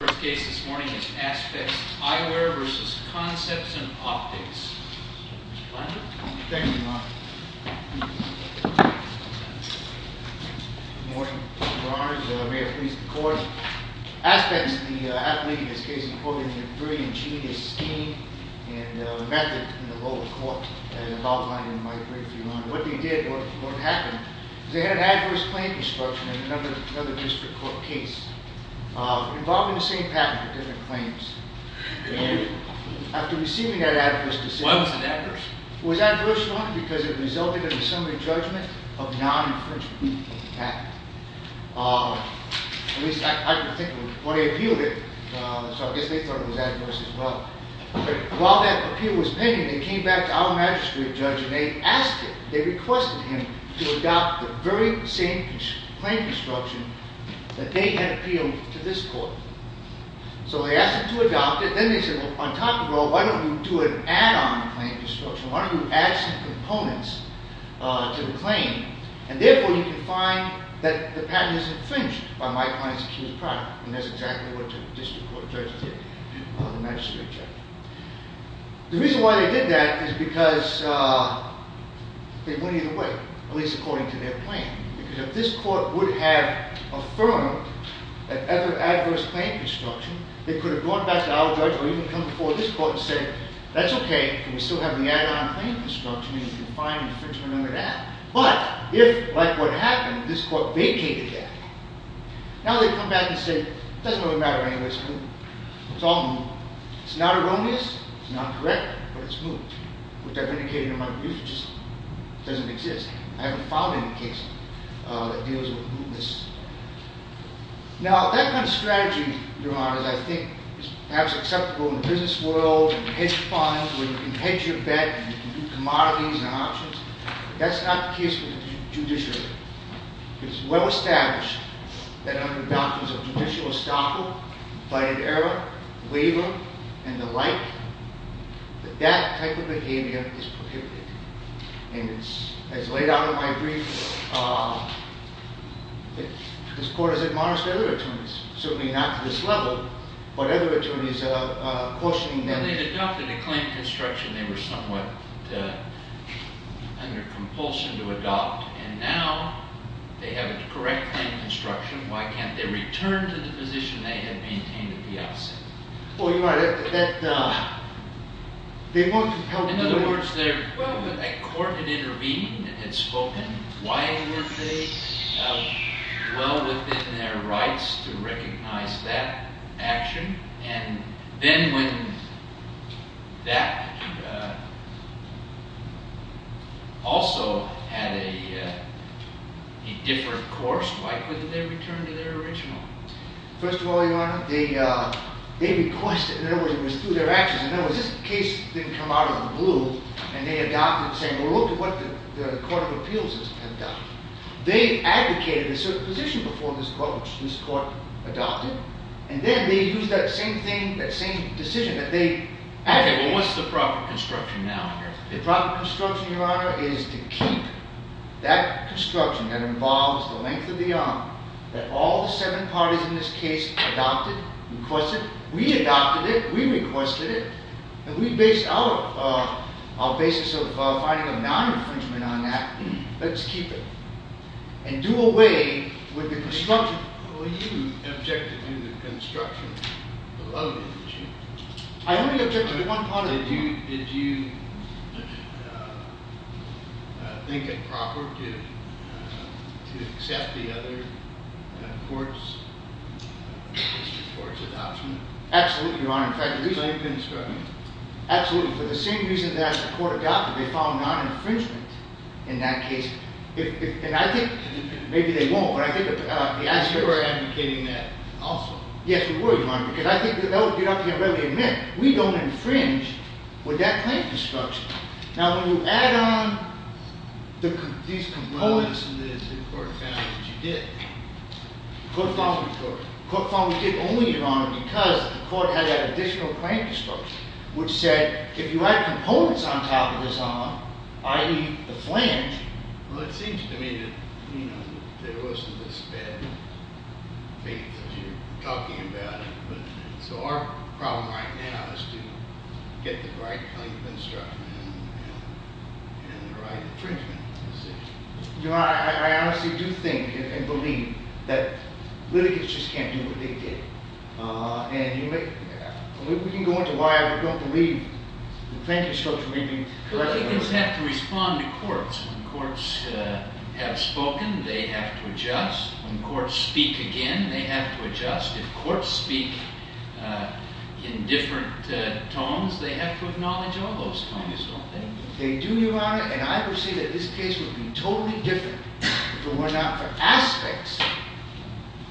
The first case this morning is Aspex Eyewear v. Concepts In Optics. Mr. Blinder? Thank you, Your Honor. Good morning, Your Honors. May it please the Court. Aspex, the athlete in this case, according to the brilliant genius scheme and method in the local court, as outlined in my brief, Your Honor. What they did, what happened, is they had an adverse claim construction in another district court case. Involving the same patent for different claims. And? After receiving that adverse decision. Why was it adverse? It was adverse, Your Honor, because it resulted in the summary judgment of non-infringement of the patent. At least I can think of when they appealed it, so I guess they thought it was adverse as well. But while that appeal was pending, they came back to our magistrate judge and they asked him, they requested him to adopt the very same claim construction that they had appealed to this court. So they asked him to adopt it. Then they said, well, on top of all, why don't we do an add-on claim construction? Why don't we add some components to the claim? And therefore you can find that the patent is infringed by my client's accused product. And that's exactly what the district court judge did, the magistrate judge. The reason why they did that is because they went either way, at least according to their claim. Because if this court would have affirmed an ever-adverse claim construction, they could have gone back to our judge or even come before this court and said, that's okay, we still have the add-on claim construction and you can find infringement under that. But if, like what happened, this court vacated that, now they come back and say, it doesn't really matter anyway, it's all new. It's not erroneous, it's not correct, but it's new. Which I've indicated in my brief, it just doesn't exist. I haven't found any case that deals with newness. Now, that kind of strategy, Your Honor, that I think is perhaps acceptable in the business world, where you hedge funds, where you can hedge your bet, you can do commodities and options, that's not the case with the judiciary. It's well established that under doctrines of judicial estoppel, by an error, waiver, and the like, that that type of behavior is prohibited. And as laid out in my brief, this court has admonished other attorneys, certainly not to this level, but other attorneys cautioning them. When they adopted the claim construction, they were somewhat under compulsion to adopt. And now, they have a correct claim construction, why can't they return to the position they had maintained at the outset? Oh, you're right. In other words, a court had intervened and had spoken. Why weren't they? Well, within their rights to recognize that action. And then when that also had a different course, why couldn't they return to their original? First of all, Your Honor, they requested, in other words, it was through their actions, in other words, this case didn't come out of the blue, and they adopted saying, well, look at what the court of appeals has done. They advocated a certain position before this court adopted, and then they used that same thing, that same decision that they advocated. Okay, well, what's the proper construction now here? The proper construction, Your Honor, is to keep that construction that involves the length of the arm that all the seven parties in this case adopted, requested. We adopted it, we requested it, and we based our basis of finding a non-infringement on that. Let's keep it. And do away with the construction. Well, you objected to the construction below the issue. I only objected to one part of it. Did you think it proper to accept the other court's adoption? Absolutely, Your Honor. So you've been struggling? Absolutely. For the same reason that the court adopted, they found non-infringement in that case. And I think, maybe they won't, but I think the aspect of it. You were advocating that also. Yes, we were, Your Honor, because I think, you know, I can readily admit, we don't infringe with that claim construction. Now, when you add on these components. Well, this is the court found that you did. The court found we did only, Your Honor, because the court had that additional claim construction, which said, if you add components on top of this, Your Honor, i.e., the flange. Well, it seems to me that, you know, there wasn't this bad faith that you're talking about. So our problem right now is to get the right claim construction and the right infringement decision. Your Honor, I honestly do think and believe that litigants just can't do what they did. And we can go into why I don't believe the claim construction may be. Litigants have to respond to courts. When courts have spoken, they have to adjust. When courts speak again, they have to adjust. If courts speak in different tones, they have to acknowledge all those tones, don't they? They do, Your Honor, and I would say that this case would be totally different if it were not for aspects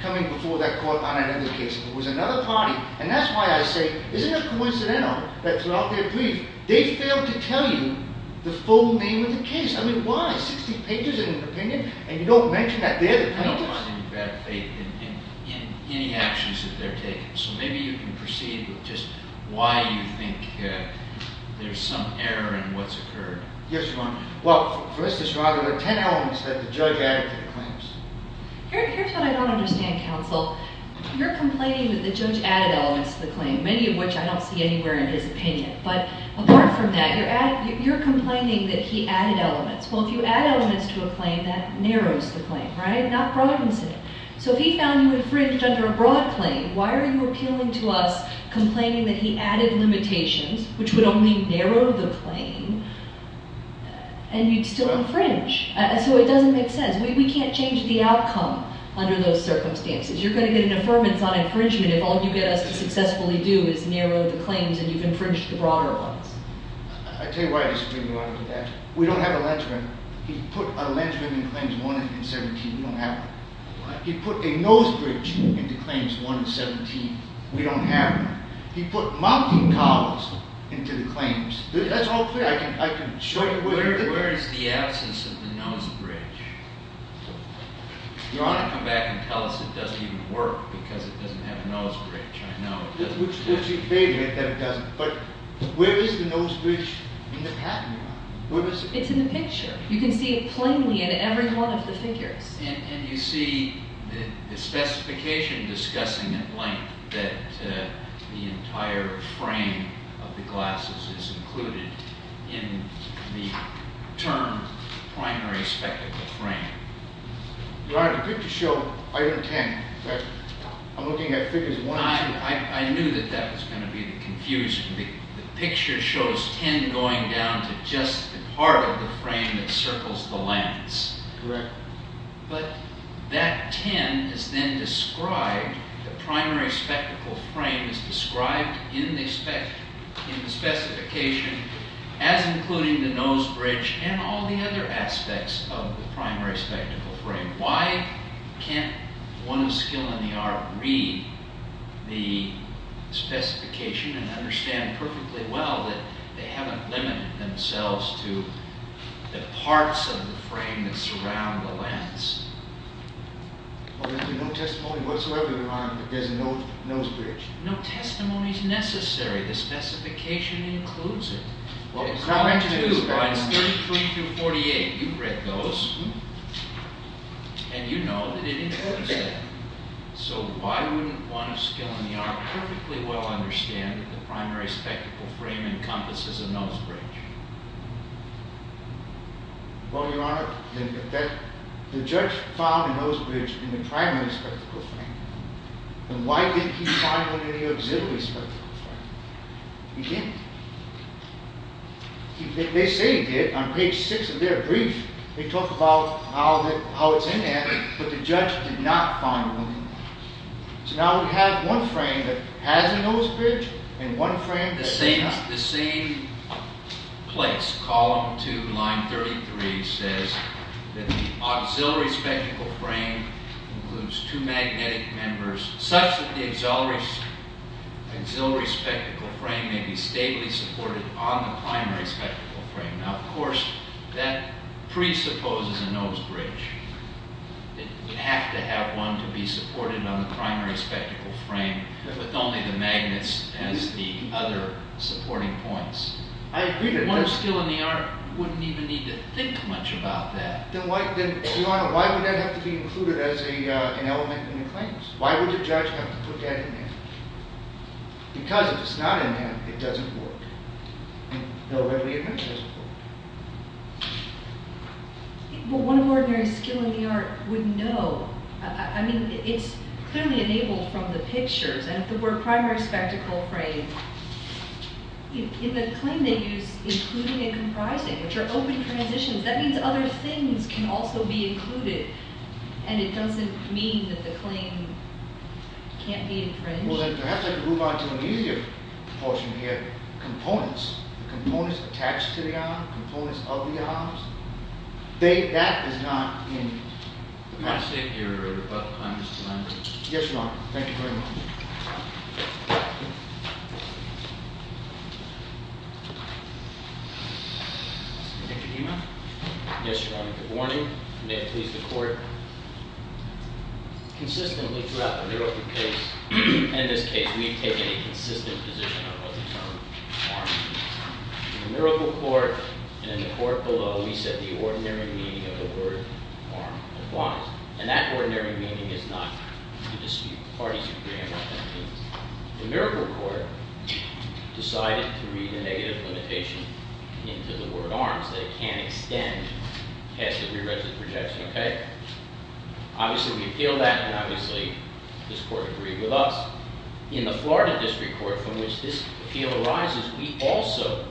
coming before that court on another case. If it was another party, and that's why I say, isn't it coincidental that throughout their brief, they failed to tell you the full name of the case? I mean, why? Sixty pages in an opinion, and you don't mention that there? I don't find any bad faith in any actions that they're taking. So maybe you can proceed with just why you think there's some error in what's occurred. Yes, Your Honor. Well, for us to survive, there were ten elements that the judge added to the claims. Here's what I don't understand, counsel. You're complaining that the judge added elements to the claim, many of which I don't see anywhere in his opinion. But apart from that, you're complaining that he added elements. Well, if you add elements to a claim, that narrows the claim, right, not broadens it. So if he found you infringed under a broad claim, why are you appealing to us complaining that he added limitations, which would only narrow the claim, and you'd still infringe? And so it doesn't make sense. We can't change the outcome under those circumstances. You're going to get an affirmance on infringement if all you get us to successfully do is narrow the claims and you've infringed the broader ones. I'll tell you why I disagree with you on that. We don't have a linchpin. He put a linchpin in Claims 1 and 17. We don't have one. He put a nose bridge into Claims 1 and 17. We don't have one. He put mountain cows into the claims. That's all fair. I can show you where the... Where is the absence of the nose bridge? You want to come back and tell us it doesn't even work because it doesn't have a nose bridge. I know it doesn't. Which would be fair to make that it doesn't. But where is the nose bridge in the patent? It's in the picture. You can see it plainly in every one of the figures. And you see the specification discussing at length that the entire frame of the glasses is included in the term primary spectacle frame. Your Honor, the picture showed item 10. I'm looking at figures 1 and 2. I knew that that was going to be the confusion. The picture shows 10 going down to just the part of the frame that circles the lens. Correct. But that 10 is then described, the primary spectacle frame is described in the specification as including the nose bridge and all the other aspects of the primary spectacle frame. Why can't one of skill in the art read the specification and understand perfectly well that they haven't limited themselves to the parts of the frame that surround the lens? There's no testimony whatsoever, Your Honor, that there's no nose bridge. No testimony is necessary. The specification includes it. It's not meant to. It's 33 through 48. You've read those. And you know that it includes that. So why wouldn't one of skill in the art perfectly well understand that the primary spectacle frame encompasses a nose bridge? Well, Your Honor, the judge found a nose bridge in the primary spectacle frame. Then why didn't he find one in the auxiliary spectacle frame? He didn't. They say he did. On page 6 of their brief, they talk about how it's in there, but the judge did not find one in there. So now we have one frame that has a nose bridge and one frame that does not. The same place, column 2, line 33, says that the auxiliary spectacle frame includes two magnetic members such that the auxiliary spectacle frame may be stably supported on the primary spectacle frame. Now, of course, that presupposes a nose bridge. It would have to have one to be supported on the primary spectacle frame with only the magnets as the other supporting points. One of skill in the art wouldn't even need to think much about that. Then, Your Honor, why would that have to be included as an element in the claims? Why would the judge have to put that in there? Because if it's not in there, it doesn't work. And no readily-admitted doesn't work. But one of ordinary skill in the art wouldn't know. I mean, it's clearly enabled from the pictures. And the word primary spectacle frame, in the claim they use, including and comprising, which are open transitions. That means other things can also be included, and it doesn't mean that the claim can't be infringed. Well, then perhaps I can move on to an easier portion here. Components. Components attached to the arm. Components of the arms. That is not in the case. Your Honor, I'm just reminding you. Yes, Your Honor. Thank you very much. Mr. Dima. Yes, Your Honor. Good morning. May it please the court. Consistently throughout the Newark case, in this case, we've taken a consistent position on what the term arm means. In the Miracle Court, and in the court below, we said the ordinary meaning of the word arm applies. And that ordinary meaning is not to dispute parties' agreement on things. The Miracle Court decided to read the negative limitation into the word arms, that it can't extend past the prerequisite projection, okay? Obviously we appealed that, and obviously this court agreed with us. In the Florida District Court, from which this appeal arises, we also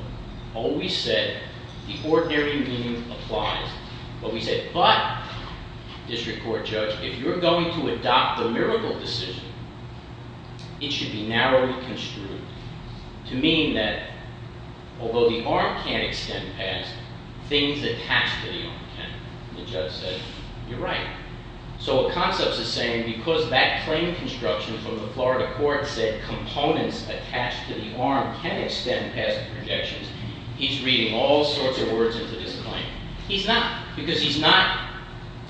always said the ordinary meaning applies. But we said, but, District Court Judge, if you're going to adopt the Miracle decision, it should be narrowly construed to mean that, although the arm can't extend past, things attached to the arm can. The judge said, you're right. So what Concepts is saying, because that claim construction from the Florida court said components attached to the arm can extend past the projections, he's reading all sorts of words into this claim. He's not, because he's not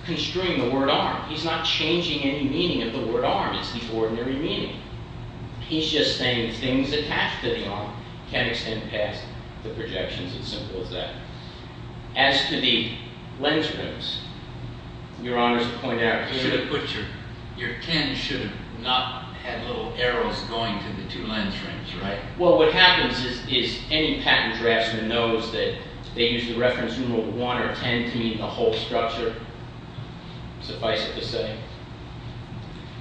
construing the word arm. He's not changing any meaning of the word arm. It's the ordinary meaning. He's just saying things attached to the arm can extend past the projections. It's as simple as that. As to the lens rings, Your Honor's point out here. Your ten should have not had little arrows going to the two lens rings, right? Well, what happens is any patent draftsman knows that they use the reference numeral one or ten to mean the whole structure. Suffice it to say.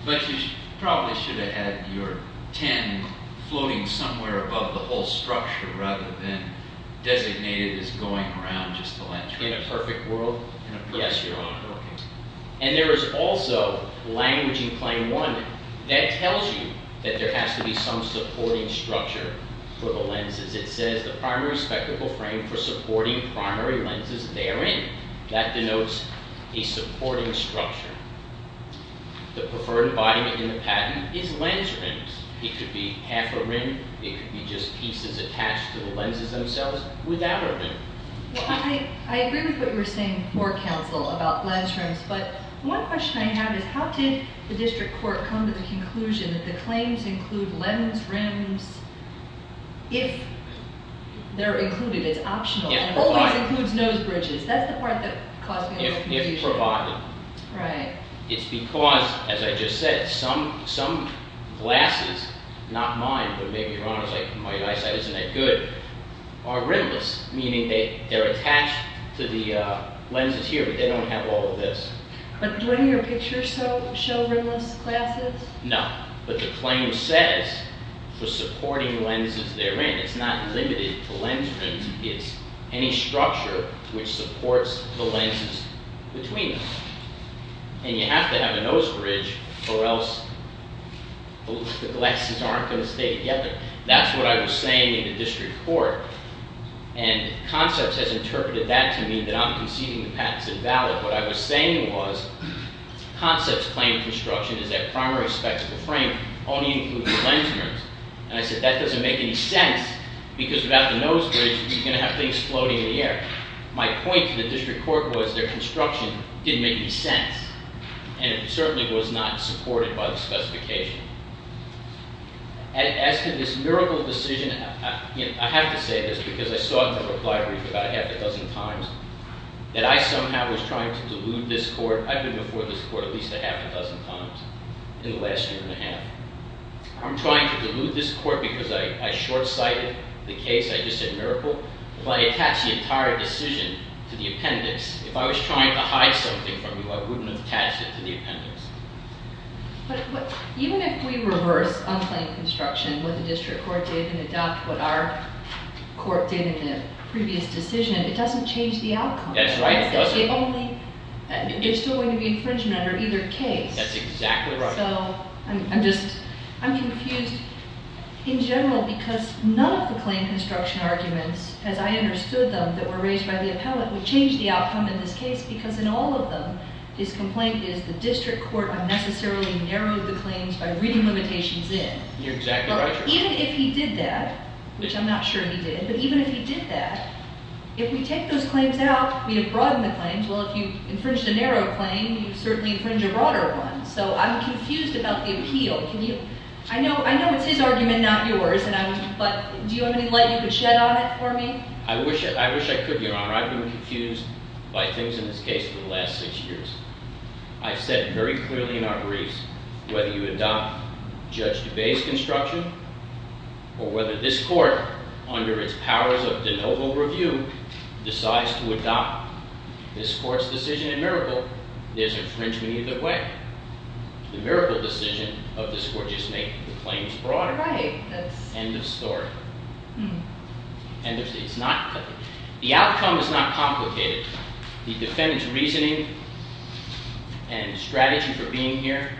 But you probably should have had your ten floating somewhere above the whole structure rather than designated as going around just the lens ring. In a perfect world? Yes, Your Honor. And there is also language in claim one that tells you that there has to be some supporting structure for the lenses. It says the primary spectacle frame for supporting primary lenses therein. That denotes a supporting structure. The preferred embodiment in the patent is lens rings. It could be half a ring. It could be just pieces attached to the lenses themselves without a ring. I agree with what you're saying, more counsel about lens rings. But one question I have is how did the district court come to the conclusion that the claims include lens rings if they're included as optional and always includes nose bridges? That's the part that caused me confusion. If provided. Right. It's because, as I just said, some glasses, not mine but maybe Your Honor's eyesight isn't that good, are rimless, meaning they're attached to the lenses here but they don't have all of this. But do any of your pictures show rimless glasses? No, but the claim says for supporting lenses therein. It's not limited to lens rings. It's any structure which supports the lenses between them. And you have to have a nose bridge or else the glasses aren't going to stay together. That's what I was saying in the district court. And concepts has interpreted that to mean that I'm conceding the patent's invalid. What I was saying was concepts claim construction is that primary spectacle frame only includes lens rings. And I said that doesn't make any sense because without the nose bridge you're going to have things floating in the air. My point to the district court was their construction didn't make any sense. And it certainly was not supported by the specification. As to this miracle decision, I have to say this because I saw it in the reply brief about half a dozen times, that I somehow was trying to delude this court. I've been before this court at least a half a dozen times in the last year and a half. I'm trying to delude this court because I short-sighted the case. I just said miracle. If I attach the entire decision to the appendix, if I was trying to hide something from you, I wouldn't have attached it to the appendix. But even if we reverse on claim construction what the district court did and adopt what our court did in the previous decision, it doesn't change the outcome. That's right. It doesn't. There's still going to be infringement under either case. That's exactly right. I'm confused in general because none of the claim construction arguments, as I understood them, that were raised by the appellate, would change the outcome in this case because in all of them his complaint is the district court unnecessarily narrowed the claims by reading limitations in. You're exactly right. Even if he did that, which I'm not sure he did, but even if he did that, if we take those claims out, we'd have broadened the claims. Well, if you infringed a narrow claim, you'd certainly infringe a broader one. So I'm confused about the appeal. I know it's his argument, not yours, but do you have any light you could shed on it for me? I wish I could, Your Honor. I've been confused by things in this case for the last six years. I've said very clearly in our briefs whether you adopt Judge Duvay's construction or whether this court, under its powers of de novo review, decides to adopt this court's decision in Miracle, there's infringement either way. The Miracle decision of this court just makes the claims broader. Right. End of story. The outcome is not complicated. The defendant's reasoning and strategy for being here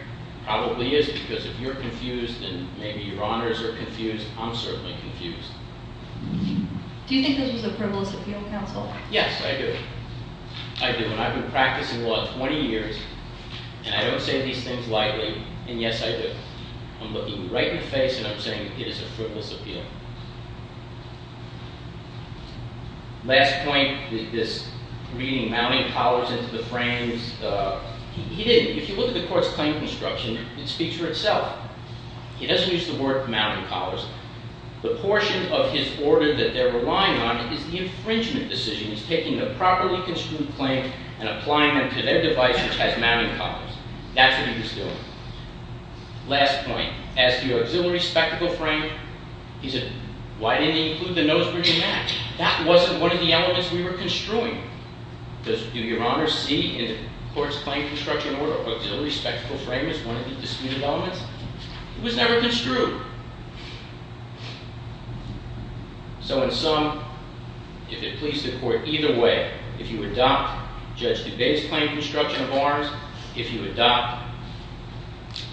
probably is because if you're confused and maybe Your Honors are confused, I'm certainly confused. Do you think this was a frivolous appeal, counsel? Yes, I do. I do. And I've been practicing law 20 years, and I don't say these things lightly. And yes, I do. I'm looking you right in the face, and I'm saying it is a frivolous appeal. Last point, this reading mounting collars into the frames, he didn't. If you look at the court's claim construction, it speaks for itself. He doesn't use the word mounting collars. The portion of his order that they're relying on is the infringement decision. He's taking the properly construed claim and applying them to their device, which has mounting collars. That's what he was doing. Last point, as to your auxiliary spectacle frame, he said, why didn't they include the nose-bridging mat? That wasn't one of the elements we were construing. Does Your Honors see in the court's claim construction order auxiliary spectacle frame as one of the disputed elements? It was never construed. So in sum, if it pleases the court, either way, if you adopt Judge DuBase's claim construction of arms, if you adopt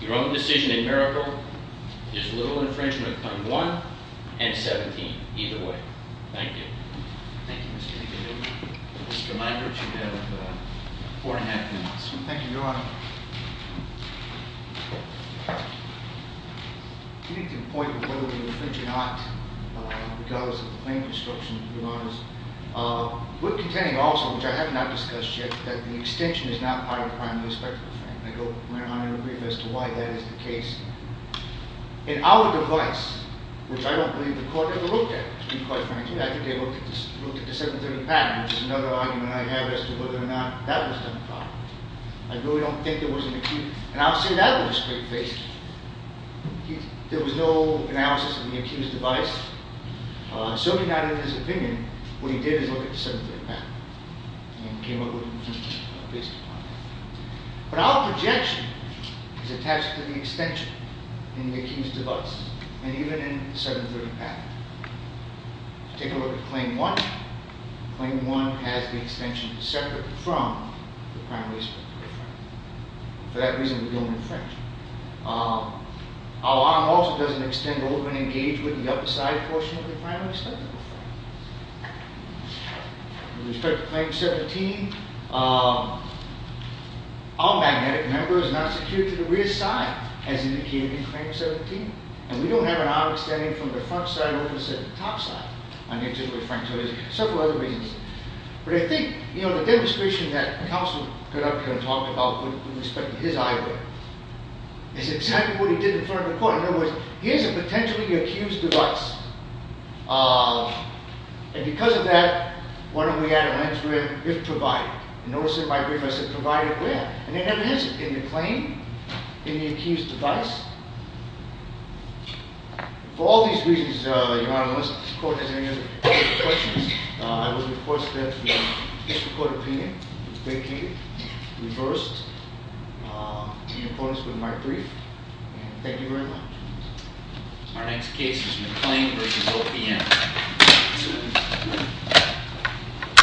your own decision in Mericle, there's little infringement of Claim 1 and 17, either way. Thank you. Thank you, Mr. DeVito. Just a reminder that you have four and a half minutes. Thank you, Your Honor. I think the point of whether we infringe or not, because of the claim construction, Your Honors, we're containing also, which I have not discussed yet, that the extension is not part of the primary spectacle frame. And I'm going to go on in a brief as to why that is the case. In our device, which I don't believe the court ever looked at, to be quite frank with you, I think they looked at the 730 pattern, which is another argument I have as to whether or not that was done properly. I really don't think there was an acute. And I'll say that with a straight face. There was no analysis of the accused device. Certainly not in his opinion. What he did is look at the 730 pattern and came up with a conclusion based upon that. But our projection is attached to the extension in the accused device, and even in the 730 pattern. Take a look at Claim 1. Claim 1 has the extension separate from the primary spectacle frame. For that reason, we don't infringe. Our arm also doesn't extend over and engage with the other side portion of the primary spectacle frame. With respect to Claim 17, our magnetic member is not secured to the rear side, as indicated in Claim 17. And we don't have an arm extending from the front side over to the top side. There are several other reasons. But I think the demonstration that counsel put up here and talked about with respect to his eyewear is exactly what he did in front of the court. In other words, here's a potentially accused device. And because of that, why don't we add a lens rim if provided? Notice in my brief, I said provided where? And there never is in the claim, in the accused device. For all these reasons, Your Honor, unless the court has any other questions, I would request that the district court opinion be vacated, reversed, in accordance with my brief. And thank you very much. Our next case is McClain v. OPM.